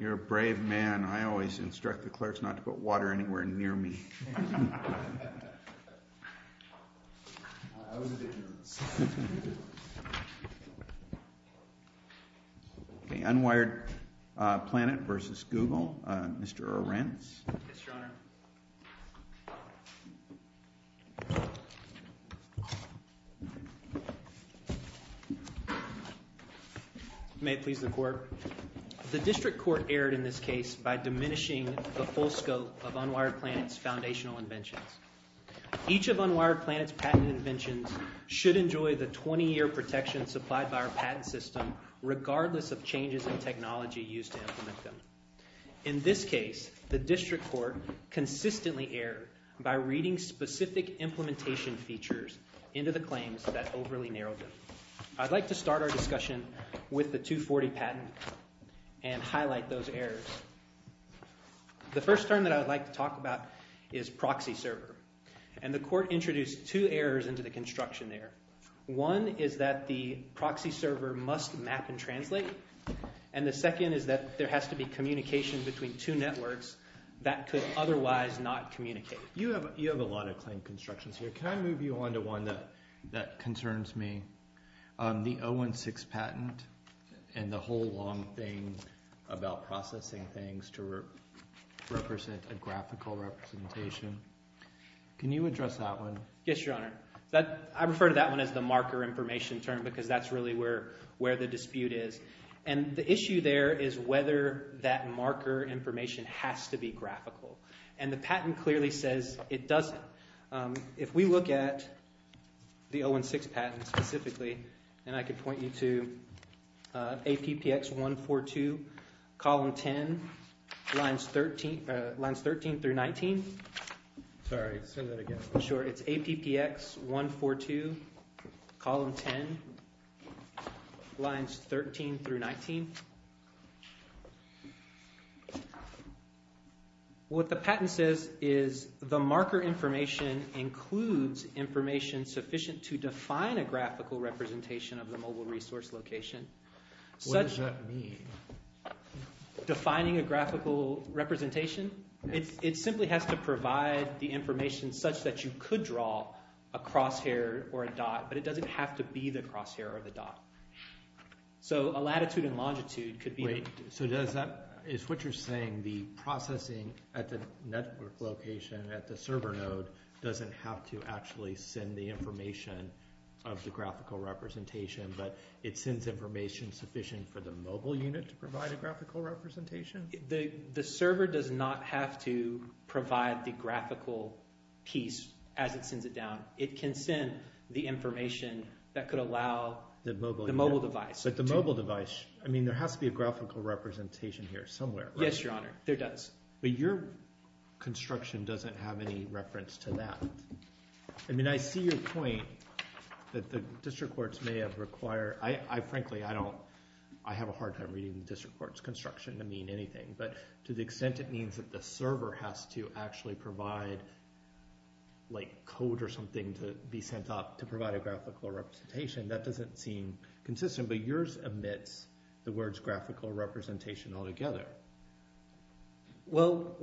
You're a brave man. I always instruct the clerks not to put water anywhere near me. Unwired Planet v. Google, Mr. Arends. May it please the court. The district court erred in this case by diminishing the full scope of Unwired Planet's foundational inventions. Each of Unwired Planet's patent inventions should enjoy the 20-year protection supplied by our patent system, regardless of changes in technology used to implement them. In this case, the district court consistently erred by reading specific implementation features into the claims that overly narrowed them. I'd like to start our discussion with the 240 patent and highlight those errors. The first term that I'd like to talk about is proxy server. And the court introduced two errors into the construction there. One is that the proxy server must map and translate. And the second is that there has to be communication between two networks that could otherwise not communicate. You have a lot of claim constructions here. Can I move you on to one that concerns me? The 016 patent and the whole long thing about processing things to represent a graphical representation. Can you address that one? Yes, Your Honor. I refer to that one as the marker information term because that's really where the dispute is. And the issue there is whether that marker information has to be graphical. And the patent clearly says it doesn't. If we look at the 016 patent specifically, and I can point you to APPX 142, column 10, lines 13 through 19. Sorry. Say that again. Sure. It's APPX 142, column 10, lines 13 through 19. What the patent says is the marker information includes information sufficient to define a graphical representation of the mobile resource location. What does that mean? Defining a graphical representation? It simply has to provide the information such that you could draw a crosshair or a dot, but it doesn't have to be the crosshair or the dot. So a latitude and longitude could be... Wait. So does that... Is what you're saying the processing at the network location at the server node doesn't have to actually send the information of the graphical representation, but it sends information sufficient for the mobile unit to provide a graphical representation? The server does not have to provide the graphical piece as it sends it down. It can send the information that could allow the mobile device. But the mobile device... I mean, there has to be a graphical representation here somewhere, right? Yes, Your Honor. There does. But your construction doesn't have any reference to that. I mean, I see your point that the district courts may have required... Frankly, I don't... I have a hard time reading the district court's construction to mean anything, but to the to provide a graphical representation. That doesn't seem consistent, but yours omits the words graphical representation altogether. Well,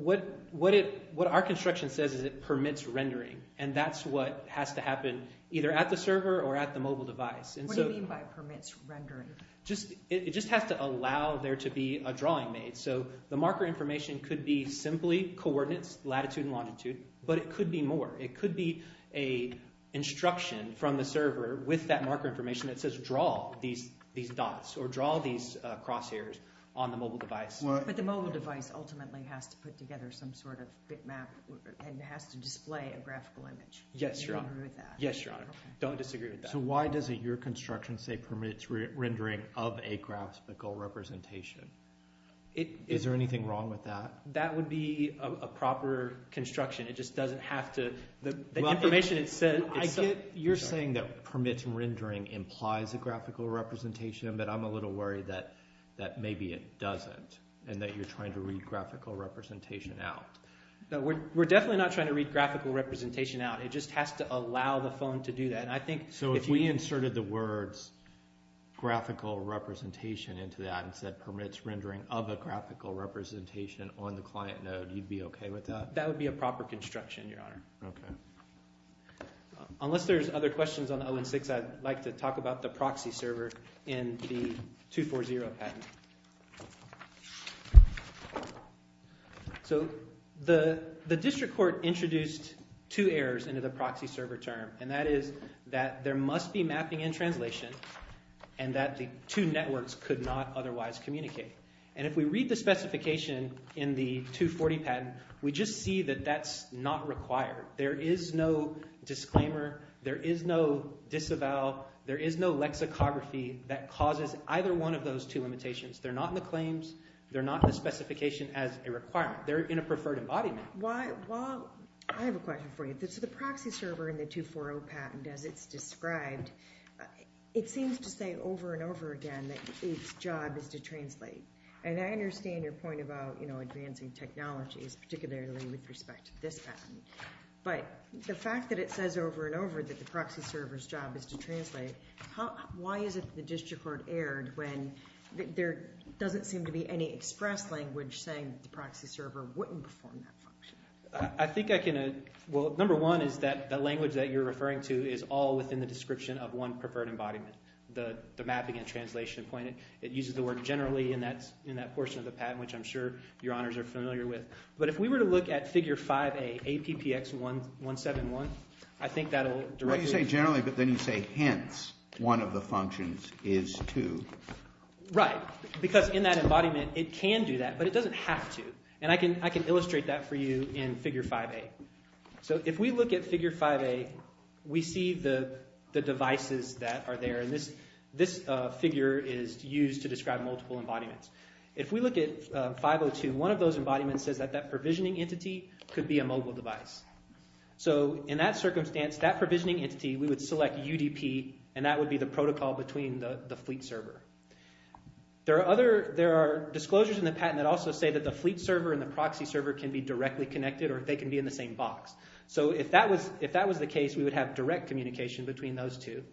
what our construction says is it permits rendering, and that's what has to happen either at the server or at the mobile device. What do you mean by permits rendering? It just has to allow there to be a drawing made. So the marker information could be simply coordinates, latitude and longitude, but it could be more. It could be an instruction from the server with that marker information that says draw these dots or draw these crosshairs on the mobile device. But the mobile device ultimately has to put together some sort of bitmap and has to display a graphical image. Yes, Your Honor. Do you agree with that? Yes, Your Honor. Don't disagree with that. So why doesn't your construction say permits rendering of a graphical representation? Is there anything wrong with that? That would be a proper construction. You're saying that permits rendering implies a graphical representation, but I'm a little worried that maybe it doesn't and that you're trying to read graphical representation out. We're definitely not trying to read graphical representation out. It just has to allow the phone to do that. So if we inserted the words graphical representation into that and said permits rendering of a graphical representation on the client node, you'd be okay with that? That would be a proper construction, Your Honor. Okay. Unless there's other questions on the 0 and 6, I'd like to talk about the proxy server in the 240 patent. So the district court introduced two errors into the proxy server term, and that is that there must be mapping and translation and that the two networks could not otherwise communicate. And if we read the specification in the 240 patent, we just see that that's not required. There is no disclaimer. There is no disavow. There is no lexicography that causes either one of those two limitations. They're not in the claims. They're not in the specification as a requirement. They're in a preferred embodiment. I have a question for you. So the proxy server in the 240 patent, as it's described, it seems to say over and over again that its job is to translate. And I understand your point about advancing technologies, particularly with respect to this patent. But the fact that it says over and over that the proxy server's job is to translate, why is it that the district court erred when there doesn't seem to be any express language saying that the proxy server wouldn't perform that function? I think I can – well, number one is that the language that you're referring to is all within the description of one preferred embodiment, the mapping and translation point. It uses the word generally in that portion of the patent, which I'm sure your honors are familiar with. But if we were to look at figure 5A, APPX171, I think that'll directly – Well, you say generally, but then you say hence one of the functions is to. Right, because in that embodiment it can do that, but it doesn't have to. And I can illustrate that for you in figure 5A. So if we look at figure 5A, we see the devices that are there. And this figure is used to describe multiple embodiments. If we look at 502, one of those embodiments says that that provisioning entity could be a mobile device. So in that circumstance, that provisioning entity, we would select UDP, and that would be the protocol between the fleet server. There are disclosures in the patent that also say that the fleet server and the proxy server can be directly connected or they can be in the same box. So if that was the case, we would have direct communication between those two.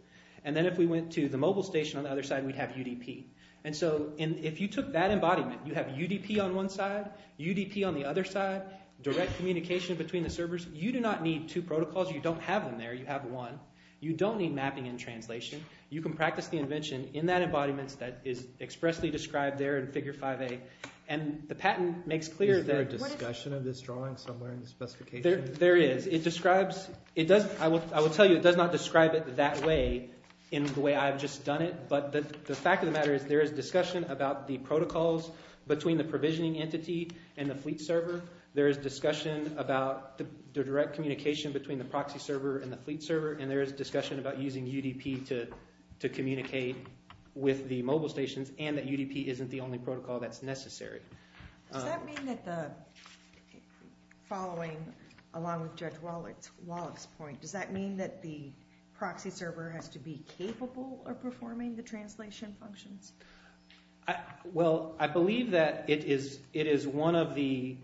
And then if we went to the mobile station on the other side, we'd have UDP. And so if you took that embodiment, you'd have UDP on one side, UDP on the other side, direct communication between the servers. You do not need two protocols. You don't have them there. You have one. You don't need mapping and translation. You can practice the invention in that embodiment that is expressly described there in figure 5A. And the patent makes clear that – Is there a discussion of this drawing somewhere in the specifications? There is. It describes – it does – I will tell you it does not describe it that way in the way I've just done it. But the fact of the matter is there is discussion about the protocols between the provisioning entity and the fleet server. There is discussion about the direct communication between the proxy server and the fleet server. And there is discussion about using UDP to communicate with the mobile stations and that is not necessary. Does that mean that the – following along with Judge Wallach's point, does that mean that the proxy server has to be capable of performing the translation functions? Well, I believe that it is one of the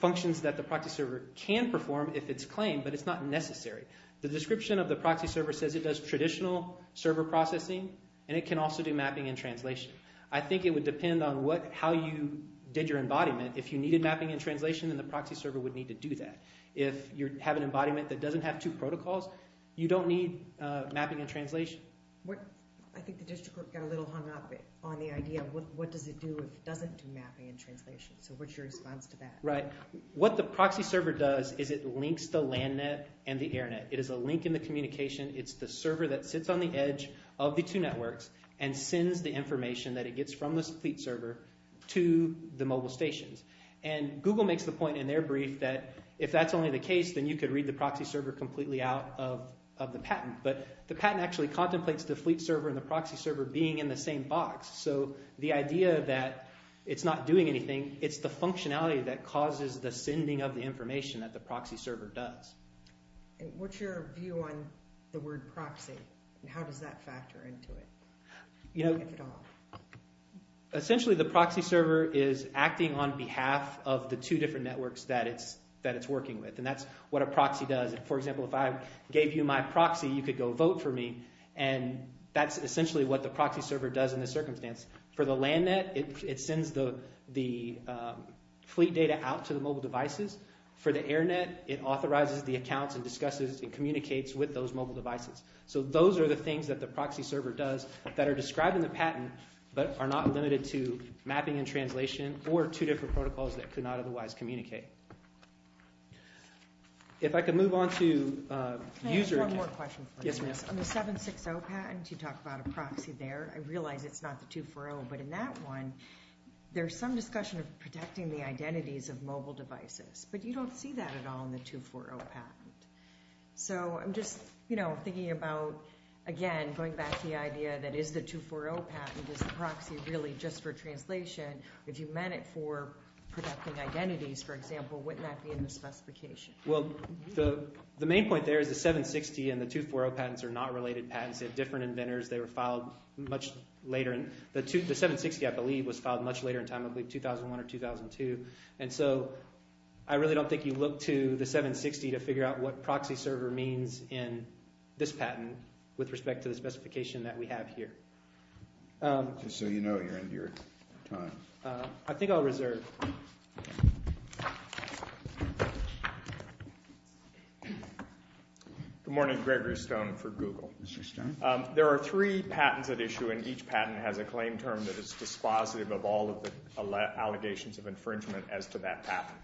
functions that the proxy server can perform if it's claimed, but it's not necessary. The description of the proxy server says it does traditional server processing and it can also do mapping and translation. I think it would depend on what – how you did your embodiment. If you needed mapping and translation, then the proxy server would need to do that. If you have an embodiment that doesn't have two protocols, you don't need mapping and translation. What – I think the district got a little hung up on the idea of what does it do if it doesn't do mapping and translation. So what's your response to that? Right. What the proxy server does is it links the land net and the air net. It is a link in the communication. It's the server that sits on the edge of the two networks and sends the information that it gets from the fleet server to the mobile stations. And Google makes the point in their brief that if that's only the case, then you could read the proxy server completely out of the patent, but the patent actually contemplates the fleet server and the proxy server being in the same box. So the idea that it's not doing anything, it's the functionality that causes the sending of the information that the proxy server does. What's your view on the word proxy and how does that factor into it, if at all? Essentially, the proxy server is acting on behalf of the two different networks that it's working with, and that's what a proxy does. For example, if I gave you my proxy, you could go vote for me, and that's essentially what the proxy server does in this circumstance. For the land net, it sends the fleet data out to the mobile devices. For the air net, it authorizes the accounts and discusses and communicates with those mobile devices. So those are the things that the proxy server does that are described in the patent but are not limited to mapping and translation or two different protocols that could not otherwise communicate. If I could move on to user accounts. Can I ask one more question? Yes, ma'am. On the 760 patent, you talk about a proxy there. I realize it's not the 240, but in that one, there's some discussion of protecting the identities of mobile devices. But you don't see that at all in the 240 patent. So I'm just thinking about, again, going back to the idea that is the 240 patent, is the proxy really just for translation? If you meant it for protecting identities, for example, wouldn't that be in the specification? Well, the main point there is the 760 and the 240 patents are not related patents. They're different inventors. They were filed much later. The 760, I believe, was filed much later in time, I believe 2001 or 2002. And so I really don't think you look to the 760 to figure out what proxy server means in this patent with respect to the specification that we have here. Just so you know, you're into your time. I think I'll reserve. Good morning. Gregory Stone for Google. Mr. Stone. There are three patents at issue, and each patent has a claim term that is dispositive of all of the allegations of infringement as to that patent.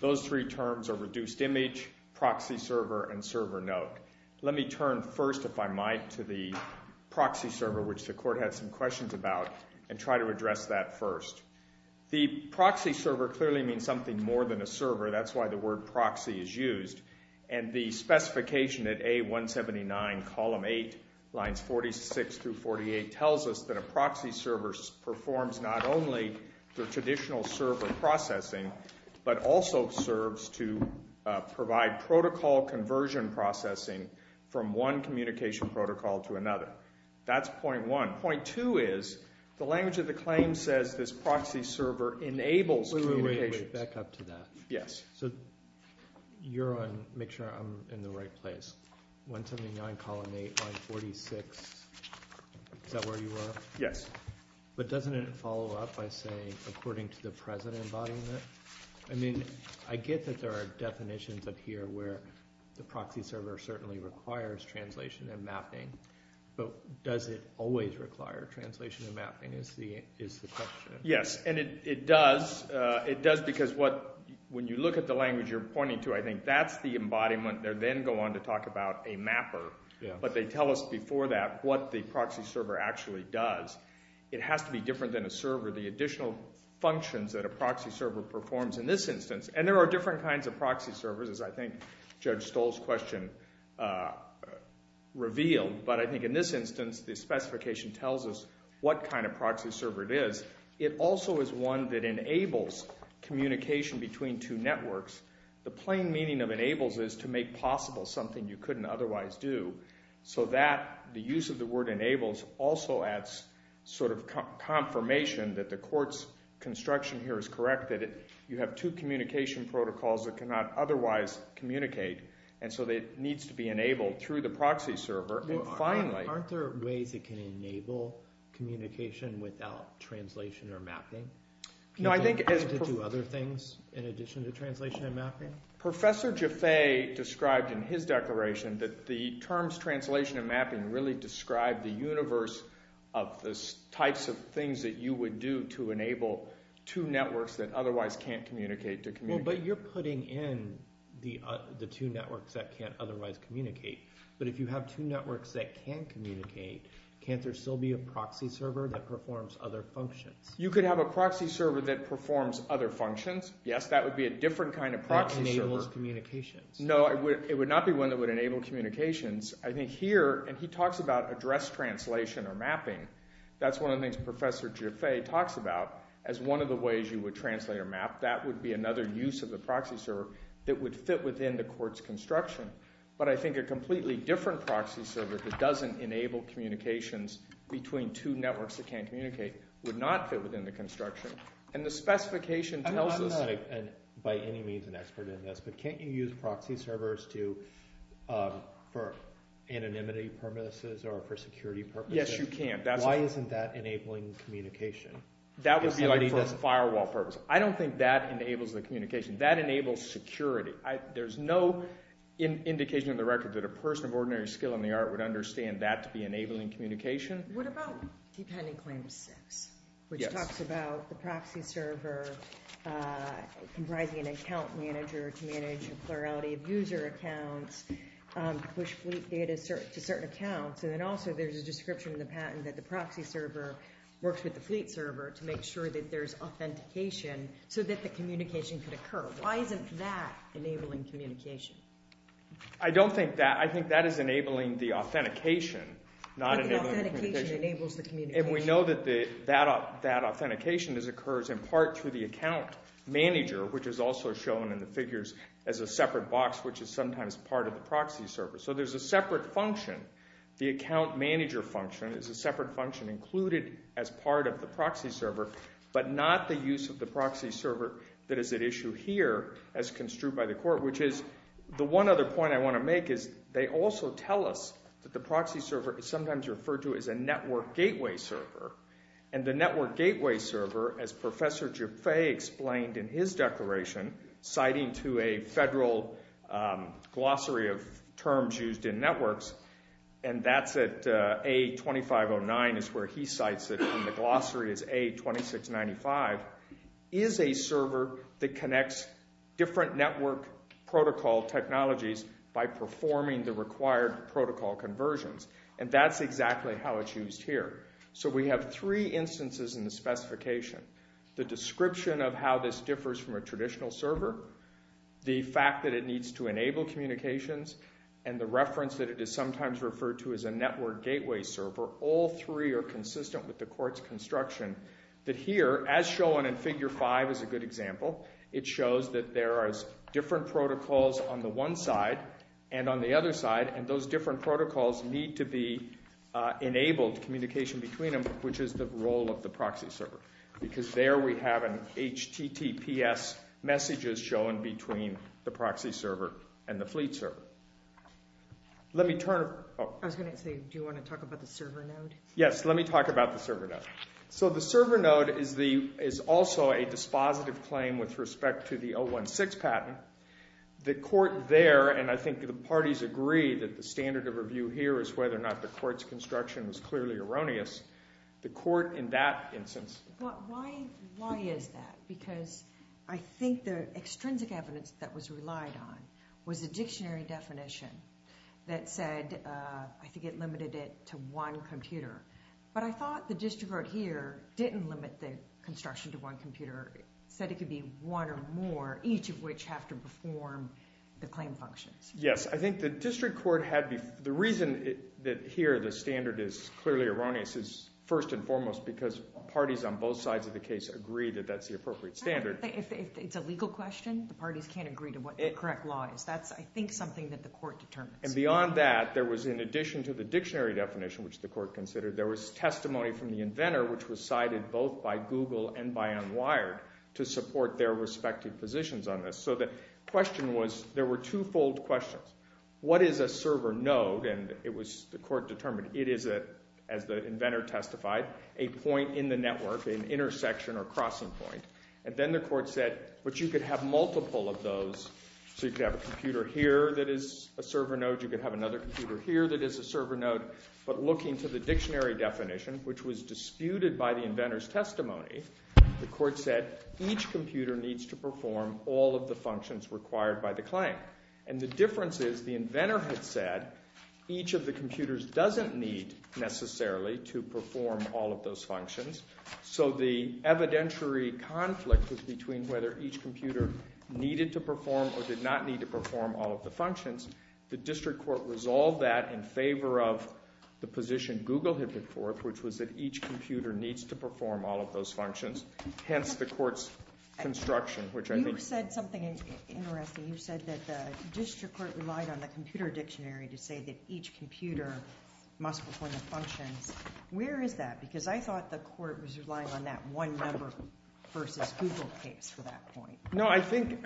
Those three terms are reduced image, proxy server, and server note. Let me turn first, if I might, to the proxy server, which the court had some questions about, and try to address that first. The proxy server clearly means something more than a server. That's why the word proxy is used. And the specification at A179, column 8, lines 46 through 48, tells us that a proxy server performs not only the traditional server processing, but also serves to provide protocol conversion processing from one communication protocol to another. That's point one. Point two is the language of the claim says this proxy server enables communication. Wait, wait, wait. Back up to that. Yes. So you're on, make sure I'm in the right place. 179, column 8, line 46. Is that where you are? Yes. But doesn't it follow up by saying, according to the present embodiment? I mean, I get that there are definitions up here where the proxy server certainly requires translation and mapping, but does it always require translation and mapping is the question. Yes. And it does. It does because when you look at the language you're pointing to, I think that's the embodiment. They then go on to talk about a mapper, but they tell us before that what the proxy server actually does. It has to be different than a server. The additional functions that a proxy server performs in this instance, and there are different kinds of proxy servers, as I think Judge Stoll's question revealed, but I think in this instance the specification tells us what kind of proxy server it is. It also is one that enables communication between two networks. The plain meaning of enables is to make possible something you couldn't otherwise do, so that the use of the word enables also adds sort of confirmation that the court's construction here is correct, that you have two communication protocols that cannot otherwise communicate, and so it needs to be enabled through the proxy server. Aren't there ways it can enable communication without translation or mapping? Can you do other things in addition to translation and mapping? Professor Jaffe described in his declaration that the terms translation and mapping really describe the universe of the types of things that you would do to enable two networks that otherwise can't communicate to communicate. But you're putting in the two networks that can't otherwise communicate, but if you have two networks that can communicate, can't there still be a proxy server that performs other functions? You could have a proxy server that performs other functions. Yes, that would be a different kind of proxy server. That enables communications. No, it would not be one that would enable communications. I think here, and he talks about address translation or mapping, that's one of the things Professor Jaffe talks about as one of the ways you would translate or map. That would be another use of the proxy server that would fit within the court's construction. But I think a completely different proxy server that doesn't enable communications between two networks that can't communicate would not fit within the construction. And the specification tells us... I'm not by any means an expert in this, but can't you use proxy servers for anonymity purposes or for security purposes? Yes, you can. Why isn't that enabling communication? That would be for a firewall purpose. I don't think that enables the communication. That enables security. There's no indication on the record that a person of ordinary skill in the art would understand that to be enabling communication. What about T-Pending Claim 6, which talks about the proxy server comprising an account manager to manage a plurality of user accounts, push fleet data to certain accounts, and then also there's a description in the patent that the proxy server works with the fleet server to make sure that there's authentication so that the communication could occur. Why isn't that enabling communication? I don't think that... I think that is enabling the authentication, not enabling communication. But the authentication enables the communication. And we know that that authentication occurs in part through the account manager, which is also shown in the figures as a separate box, which is sometimes part of the proxy server. So there's a separate function. The account manager function is a separate function included as part of the proxy server, but not the use of the proxy server that is at issue here as construed by the court, which is... The one other point I want to make is they also tell us that the proxy server is sometimes referred to as a network gateway server. And the network gateway server, as Professor Jaffe explained in his declaration, citing to a federal glossary of terms used in networks, and that's at A-2509 is where he cites it in the glossary as A-2695, is a server that connects different network protocol technologies by performing the required protocol conversions. And that's exactly how it's used here. So we have three instances in the specification. The description of how this differs from a traditional server, the fact that it needs to enable communications, and the reference that it is sometimes referred to as a network gateway server, all three are consistent with the court's construction. But here, as shown in Figure 5 as a good example, it shows that there are different protocols on the one side and on the other side, and those different protocols need to be enabled communication between them, which is the role of the proxy server. Because there we have an HTTPS messages shown between the proxy server and the fleet server. Let me turn... I was going to say, do you want to talk about the server node? Yes, let me talk about the server node. So the server node is also a dispositive claim with respect to the 016 patent. The court there, and I think the parties agree that the standard of review here is whether or not the court's construction was clearly erroneous. The court in that instance... But why is that? Because I think the extrinsic evidence that was relied on was a dictionary definition that said, I think it limited it to one computer. But I thought the district court here didn't limit the construction to one computer. It said it could be one or more, each of which have to perform the claim functions. Yes, I think the district court had... The reason that here the standard is clearly erroneous is first and foremost because parties on both sides of the case agree that that's the appropriate standard. If it's a legal question, the parties can't agree to what the correct law is. That's, I think, something that the court determines. And beyond that, there was, in addition to the dictionary definition, which the court considered, there was testimony from the inventor, which was cited both by Google and by UnWired to support their respective positions on this. So the question was, there were two-fold questions. What is a server node? And the court determined it is, as the inventor testified, a point in the network, an intersection or crossing point. And then the court said, but you could have multiple of those. So you could have a computer here that is a server node. You could have another computer here that is a server node. But looking to the dictionary definition, which was disputed by the inventor's testimony, the court said each computer needs to perform all of the functions required by the claim. And the difference is the inventor had said each of the computers doesn't need necessarily to perform all of those functions. So the evidentiary conflict was between whether each computer needed to perform or did not need to perform all of the functions. The district court resolved that in favor of the position Google had put forth, which was that each computer needs to perform all of those functions, hence the court's construction, which I think— You said something interesting. You said that the district court relied on the computer dictionary to say that each computer must perform the functions. Where is that? Because I thought the court was relying on that one number versus Google case for that point. No, I think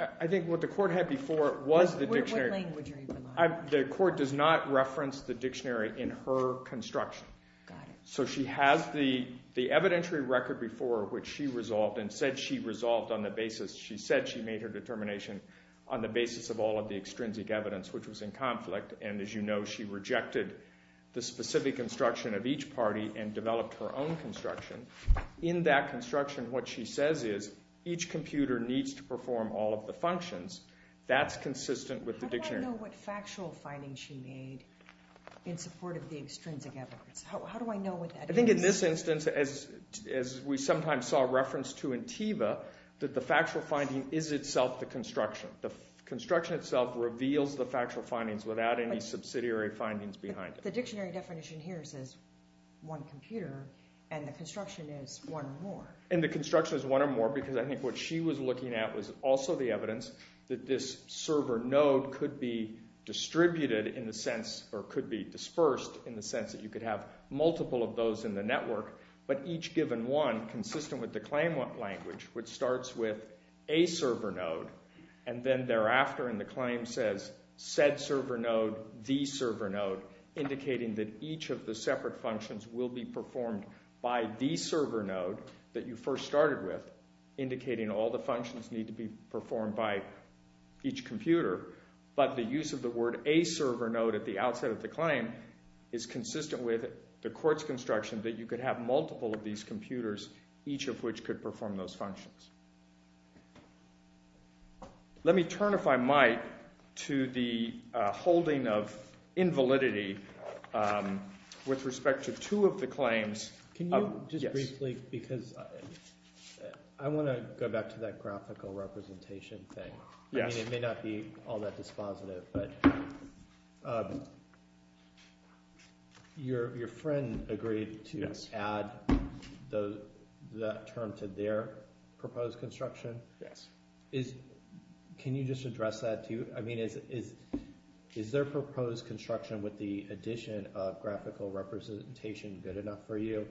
what the court had before was the dictionary. What language are you relying on? The court does not reference the dictionary in her construction. Got it. So she has the evidentiary record before which she resolved and said she resolved on the basis—she said she made her determination on the basis of all of the extrinsic evidence, which was in conflict. And as you know, she rejected the specific instruction of each party and developed her own construction. In that construction, what she says is each computer needs to perform all of the functions. That's consistent with the dictionary. How do I know what factual findings she made in support of the extrinsic evidence? How do I know what that is? I think in this instance, as we sometimes saw reference to in TEVA, that the factual finding is itself the construction. The construction itself reveals the factual findings without any subsidiary findings behind it. The dictionary definition here says one computer, and the construction is one or more. And the construction is one or more because I think what she was looking at was also the evidence that this server node could be distributed in the sense—or could be dispersed in the sense that you could have multiple of those in the network, but each given one, consistent with the claim language, which starts with a server node, and then thereafter in the claim says said server node, the server node, indicating that each of the separate functions will be performed by the server node that you first started with, indicating all the functions need to be performed by each computer. But the use of the word a server node at the outset of the claim is consistent with the fact that you could have multiple of these computers, each of which could perform those functions. Let me turn, if I might, to the holding of invalidity with respect to two of the claims. Can you just briefly—because I want to go back to that graphical representation thing. It may not be all that dispositive, but your friend agreed to add that term to their proposed construction. Can you just address that to—I mean, is their proposed construction with the addition of graphical representation good enough for you?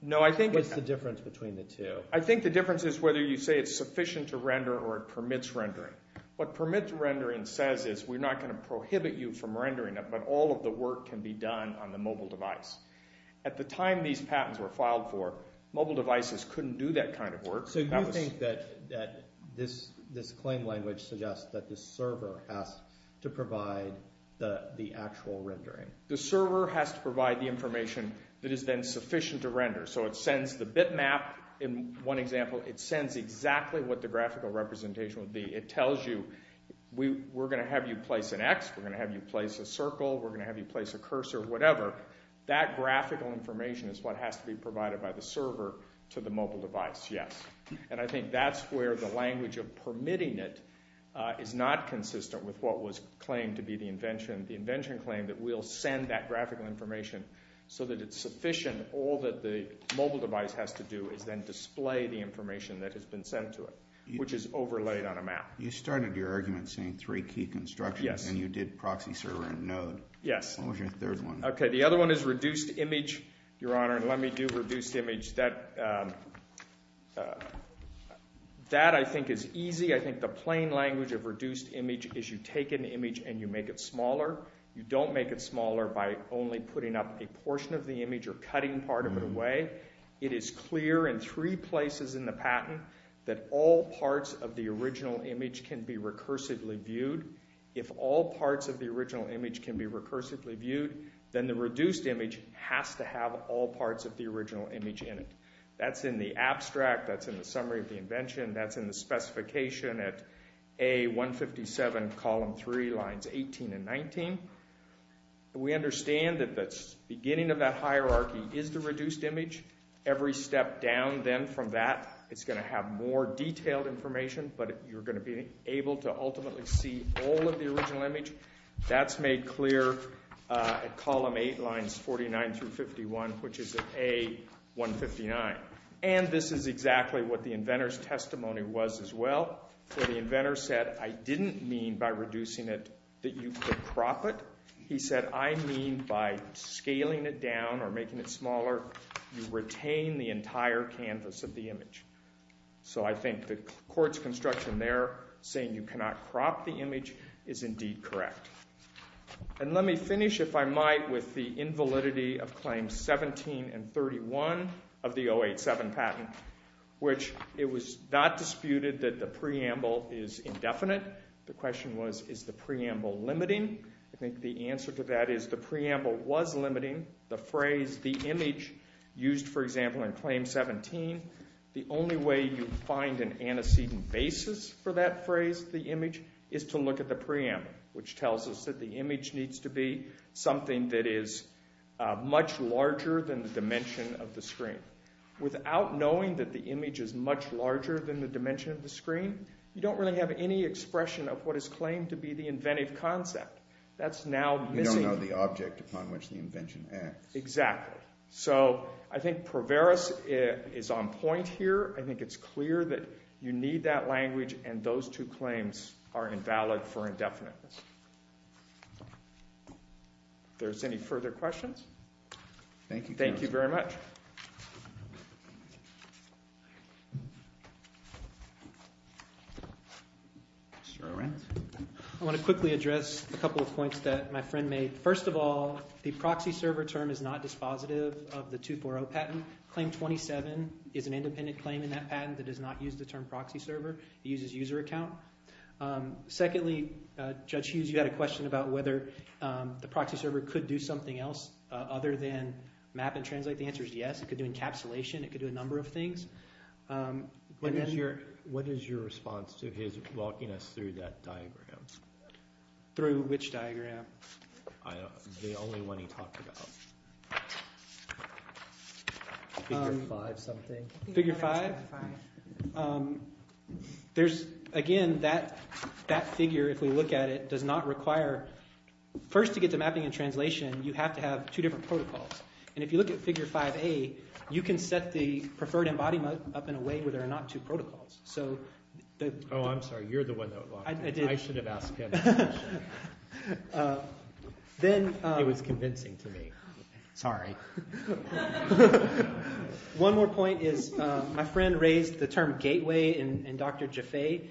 What's the difference between the two? I think the difference is whether you say it's sufficient to render or it permits rendering. What permits rendering says is we're not going to prohibit you from rendering it, but all of the work can be done on the mobile device. At the time these patents were filed for, mobile devices couldn't do that kind of work. So you think that this claim language suggests that the server has to provide the actual rendering? So it sends the bitmap, in one example, it sends exactly what the graphical representation would be. It tells you we're going to have you place an X, we're going to have you place a circle, we're going to have you place a cursor, whatever. That graphical information is what has to be provided by the server to the mobile device, yes. And I think that's where the language of permitting it is not consistent with what was claimed to be the invention. The invention claimed that we'll send that graphical information so that it's sufficient and all that the mobile device has to do is then display the information that has been sent to it, which is overlaid on a map. You started your argument saying three key constructions and you did proxy server and node. Yes. What was your third one? Okay, the other one is reduced image, Your Honor, and let me do reduced image. That I think is easy. I think the plain language of reduced image is you take an image and you make it smaller. You don't make it smaller by only putting up a portion of the image or cutting part of it away. It is clear in three places in the patent that all parts of the original image can be recursively viewed. If all parts of the original image can be recursively viewed, then the reduced image has to have all parts of the original image in it. That's in the abstract. That's in the summary of the invention. That's in the specification at A157, column 3, lines 18 and 19. We understand that the beginning of that hierarchy is the reduced image. Every step down then from that, it's going to have more detailed information, but you're going to be able to ultimately see all of the original image. That's made clear at column 8, lines 49 through 51, which is at A159. And this is exactly what the inventor's testimony was as well. The inventor said, I didn't mean by reducing it that you could crop it. He said, I mean by scaling it down or making it smaller, you retain the entire canvas of the image. So I think the court's construction there saying you cannot crop the image is indeed correct. And let me finish, if I might, with the invalidity of claims 17 and 31 of the 087 patent, which it was not disputed that the preamble is indefinite. The question was, is the preamble limiting? I think the answer to that is the preamble was limiting. The phrase, the image used, for example, in claim 17, the only way you find an antecedent basis for that phrase, the image, is to look at the preamble, which tells us that the image needs to be something that is much larger than the dimension of the screen. Without knowing that the image is much larger than the dimension of the screen, you don't really have any expression of what is claimed to be the inventive concept. That's now missing. You don't know the object upon which the invention acts. Exactly. So I think Proveros is on point here. I think it's clear that you need that language, and those two claims are invalid for indefiniteness. If there's any further questions? Thank you. Thank you very much. Mr. Arendt? I want to quickly address a couple of points that my friend made. First of all, the proxy server term is not dispositive of the 240 patent. Claim 27 is an independent claim in that patent that does not use the term proxy server. It uses user account. Secondly, Judge Hughes, you had a question about whether the proxy server could do something else other than map and translate. The answer is yes. It could do encapsulation. It could do a number of things. What is your response to his walking us through that diagram? Through which diagram? The only one he talked about. Figure 5 something. Figure 5? There's, again, that figure, if we look at it, does not require... First, to get to mapping and translation, you have to have two different protocols. And if you look at Figure 5A, you can set the preferred embodiment up in a way where there are not two protocols. Oh, I'm sorry. You're the one that walked me through it. I should have asked him. It was convincing to me. Sorry. One more point is my friend raised the term gateway in Dr. Jaffe.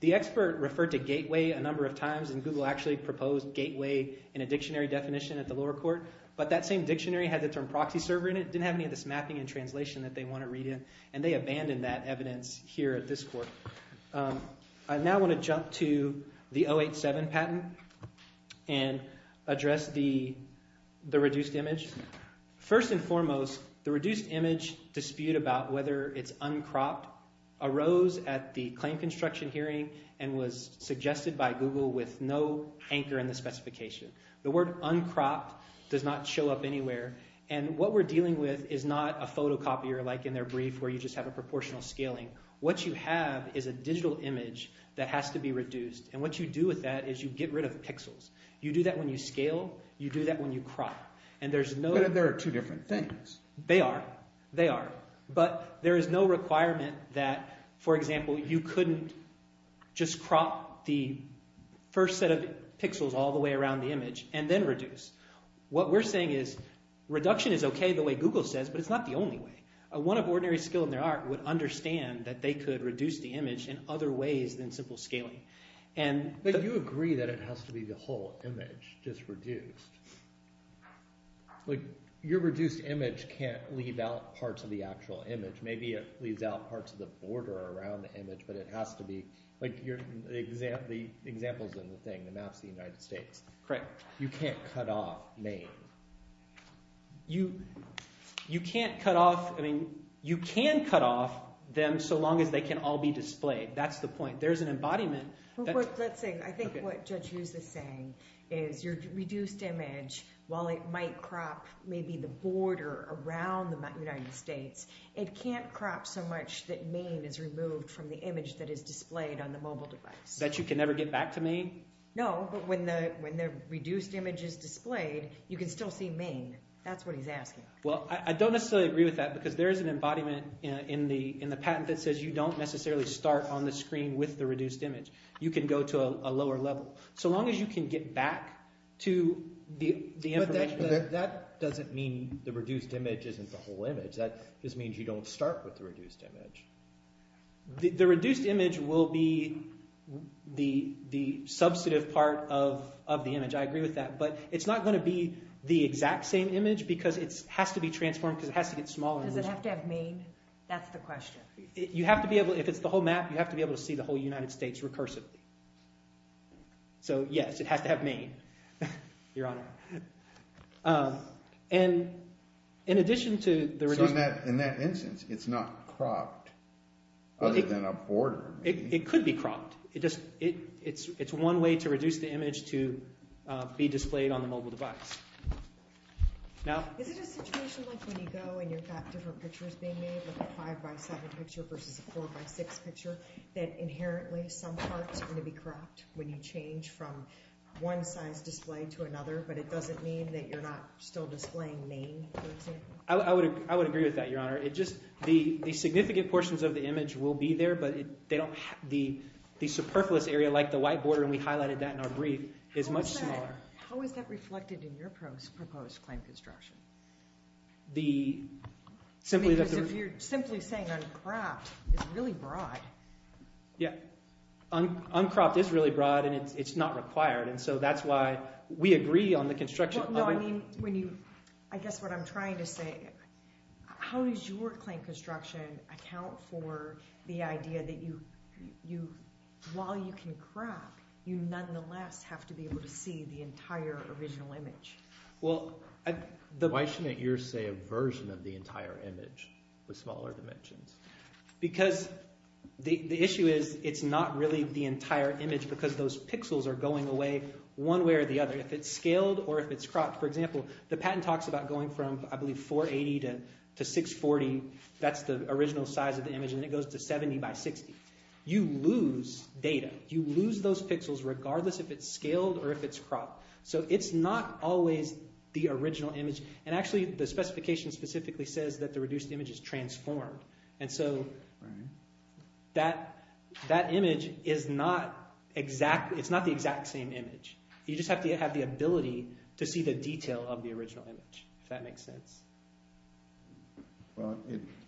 The expert referred to gateway a number of times. And Google actually proposed gateway in a dictionary definition at the lower court. But that same dictionary had the term proxy server in it. It didn't have any of this mapping and translation that they want to read in. And they abandoned that evidence here at this court. I now want to jump to the 087 patent and address the reduced image. First and foremost, the reduced image dispute about whether it's uncropped arose at the claim construction hearing and was suggested by Google with no anchor in the specification. The word uncropped does not show up anywhere. And what we're dealing with is not a photocopier like in their brief where you just have a proportional scaling. What you have is a digital image that has to be reduced. And what you do with that is you get rid of pixels. You do that when you scale. You do that when you crop. But there are two different things. They are. They are. But there is no requirement that, for example, you couldn't just crop the first set of pixels all the way around the image and then reduce. What we're saying is reduction is okay the way Google says, but it's not the only way. One of ordinary skill in their art would understand that they could reduce the image in other ways than simple scaling. But you agree that it has to be the whole image just reduced. Your reduced image can't leave out parts of the actual image. Maybe it leaves out parts of the border around the image, but it has to be. Like the examples in the thing, the maps of the United States. Correct. You can't cut off Maine. You can't cut off. I mean, you can cut off them so long as they can all be displayed. That's the point. There's an embodiment. Let's see. I think what Judge Hughes is saying is your reduced image, while it might crop maybe the border around the United States, it can't crop so much that Maine is removed from the image that is displayed on the mobile device. That you can never get back to Maine? No. But when the reduced image is displayed, you can still see Maine. That's what he's asking. Well, I don't necessarily agree with that because there is an embodiment in the patent that says you don't necessarily start on the screen with the reduced image. You can go to a lower level. So long as you can get back to the information. But that doesn't mean the reduced image isn't the whole image. That just means you don't start with the reduced image. The reduced image will be the substantive part of the image. I agree with that. But it's not going to be the exact same image because it has to be transformed because it has to get smaller. Does it have to have Maine? That's the question. If it's the whole map, you have to be able to see the whole United States recursively. So, yes, it has to have Maine, Your Honor. In that instance, it's not cropped other than a border. It could be cropped. It's one way to reduce the image to be displayed on the mobile device. Is it a situation like when you go and you've got different pictures being made, like a 5x7 picture versus a 4x6 picture, that inherently some parts are going to be cropped when you but it doesn't mean that you're not still displaying Maine, for example? I would agree with that, Your Honor. The significant portions of the image will be there, but the superfluous area like the white border, and we highlighted that in our brief, is much smaller. How is that reflected in your proposed claim construction? Because if you're simply saying uncropped, it's really broad. Yeah. Uncropped is really broad, and it's not required. And so that's why we agree on the construction of it. I guess what I'm trying to say, how does your claim construction account for the idea that while you can crop, you nonetheless have to be able to see the entire original image? Why shouldn't you say a version of the entire image with smaller dimensions? Because the issue is it's not really the entire image because those pixels are going away one way or the other, if it's scaled or if it's cropped. For example, the patent talks about going from, I believe, 480 to 640. That's the original size of the image, and it goes to 70x60. You lose data. You lose those pixels regardless if it's scaled or if it's cropped. So it's not always the original image. And actually the specification specifically says that the reduced image is transformed. And so that image is not the exact same image. You just have to have the ability to see the detail of the original image, if that makes sense.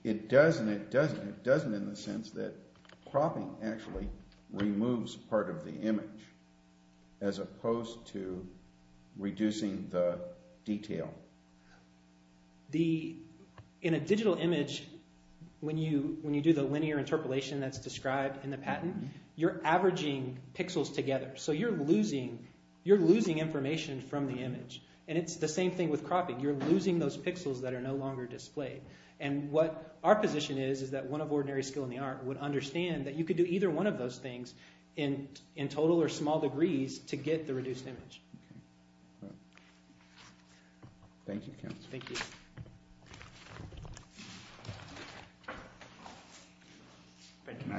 It does and it doesn't. It doesn't in the sense that cropping actually removes part of the image as opposed to reducing the detail. In a digital image, when you do the linear interpolation that's described in the patent, you're averaging pixels together. So you're losing information from the image. And it's the same thing with cropping. You're losing those pixels that are no longer displayed. And what our position is is that one of ordinary skill in the art would understand that you could do either one of those things in total or small degrees to get the reduced image. Thank you, Counselor. Thank you.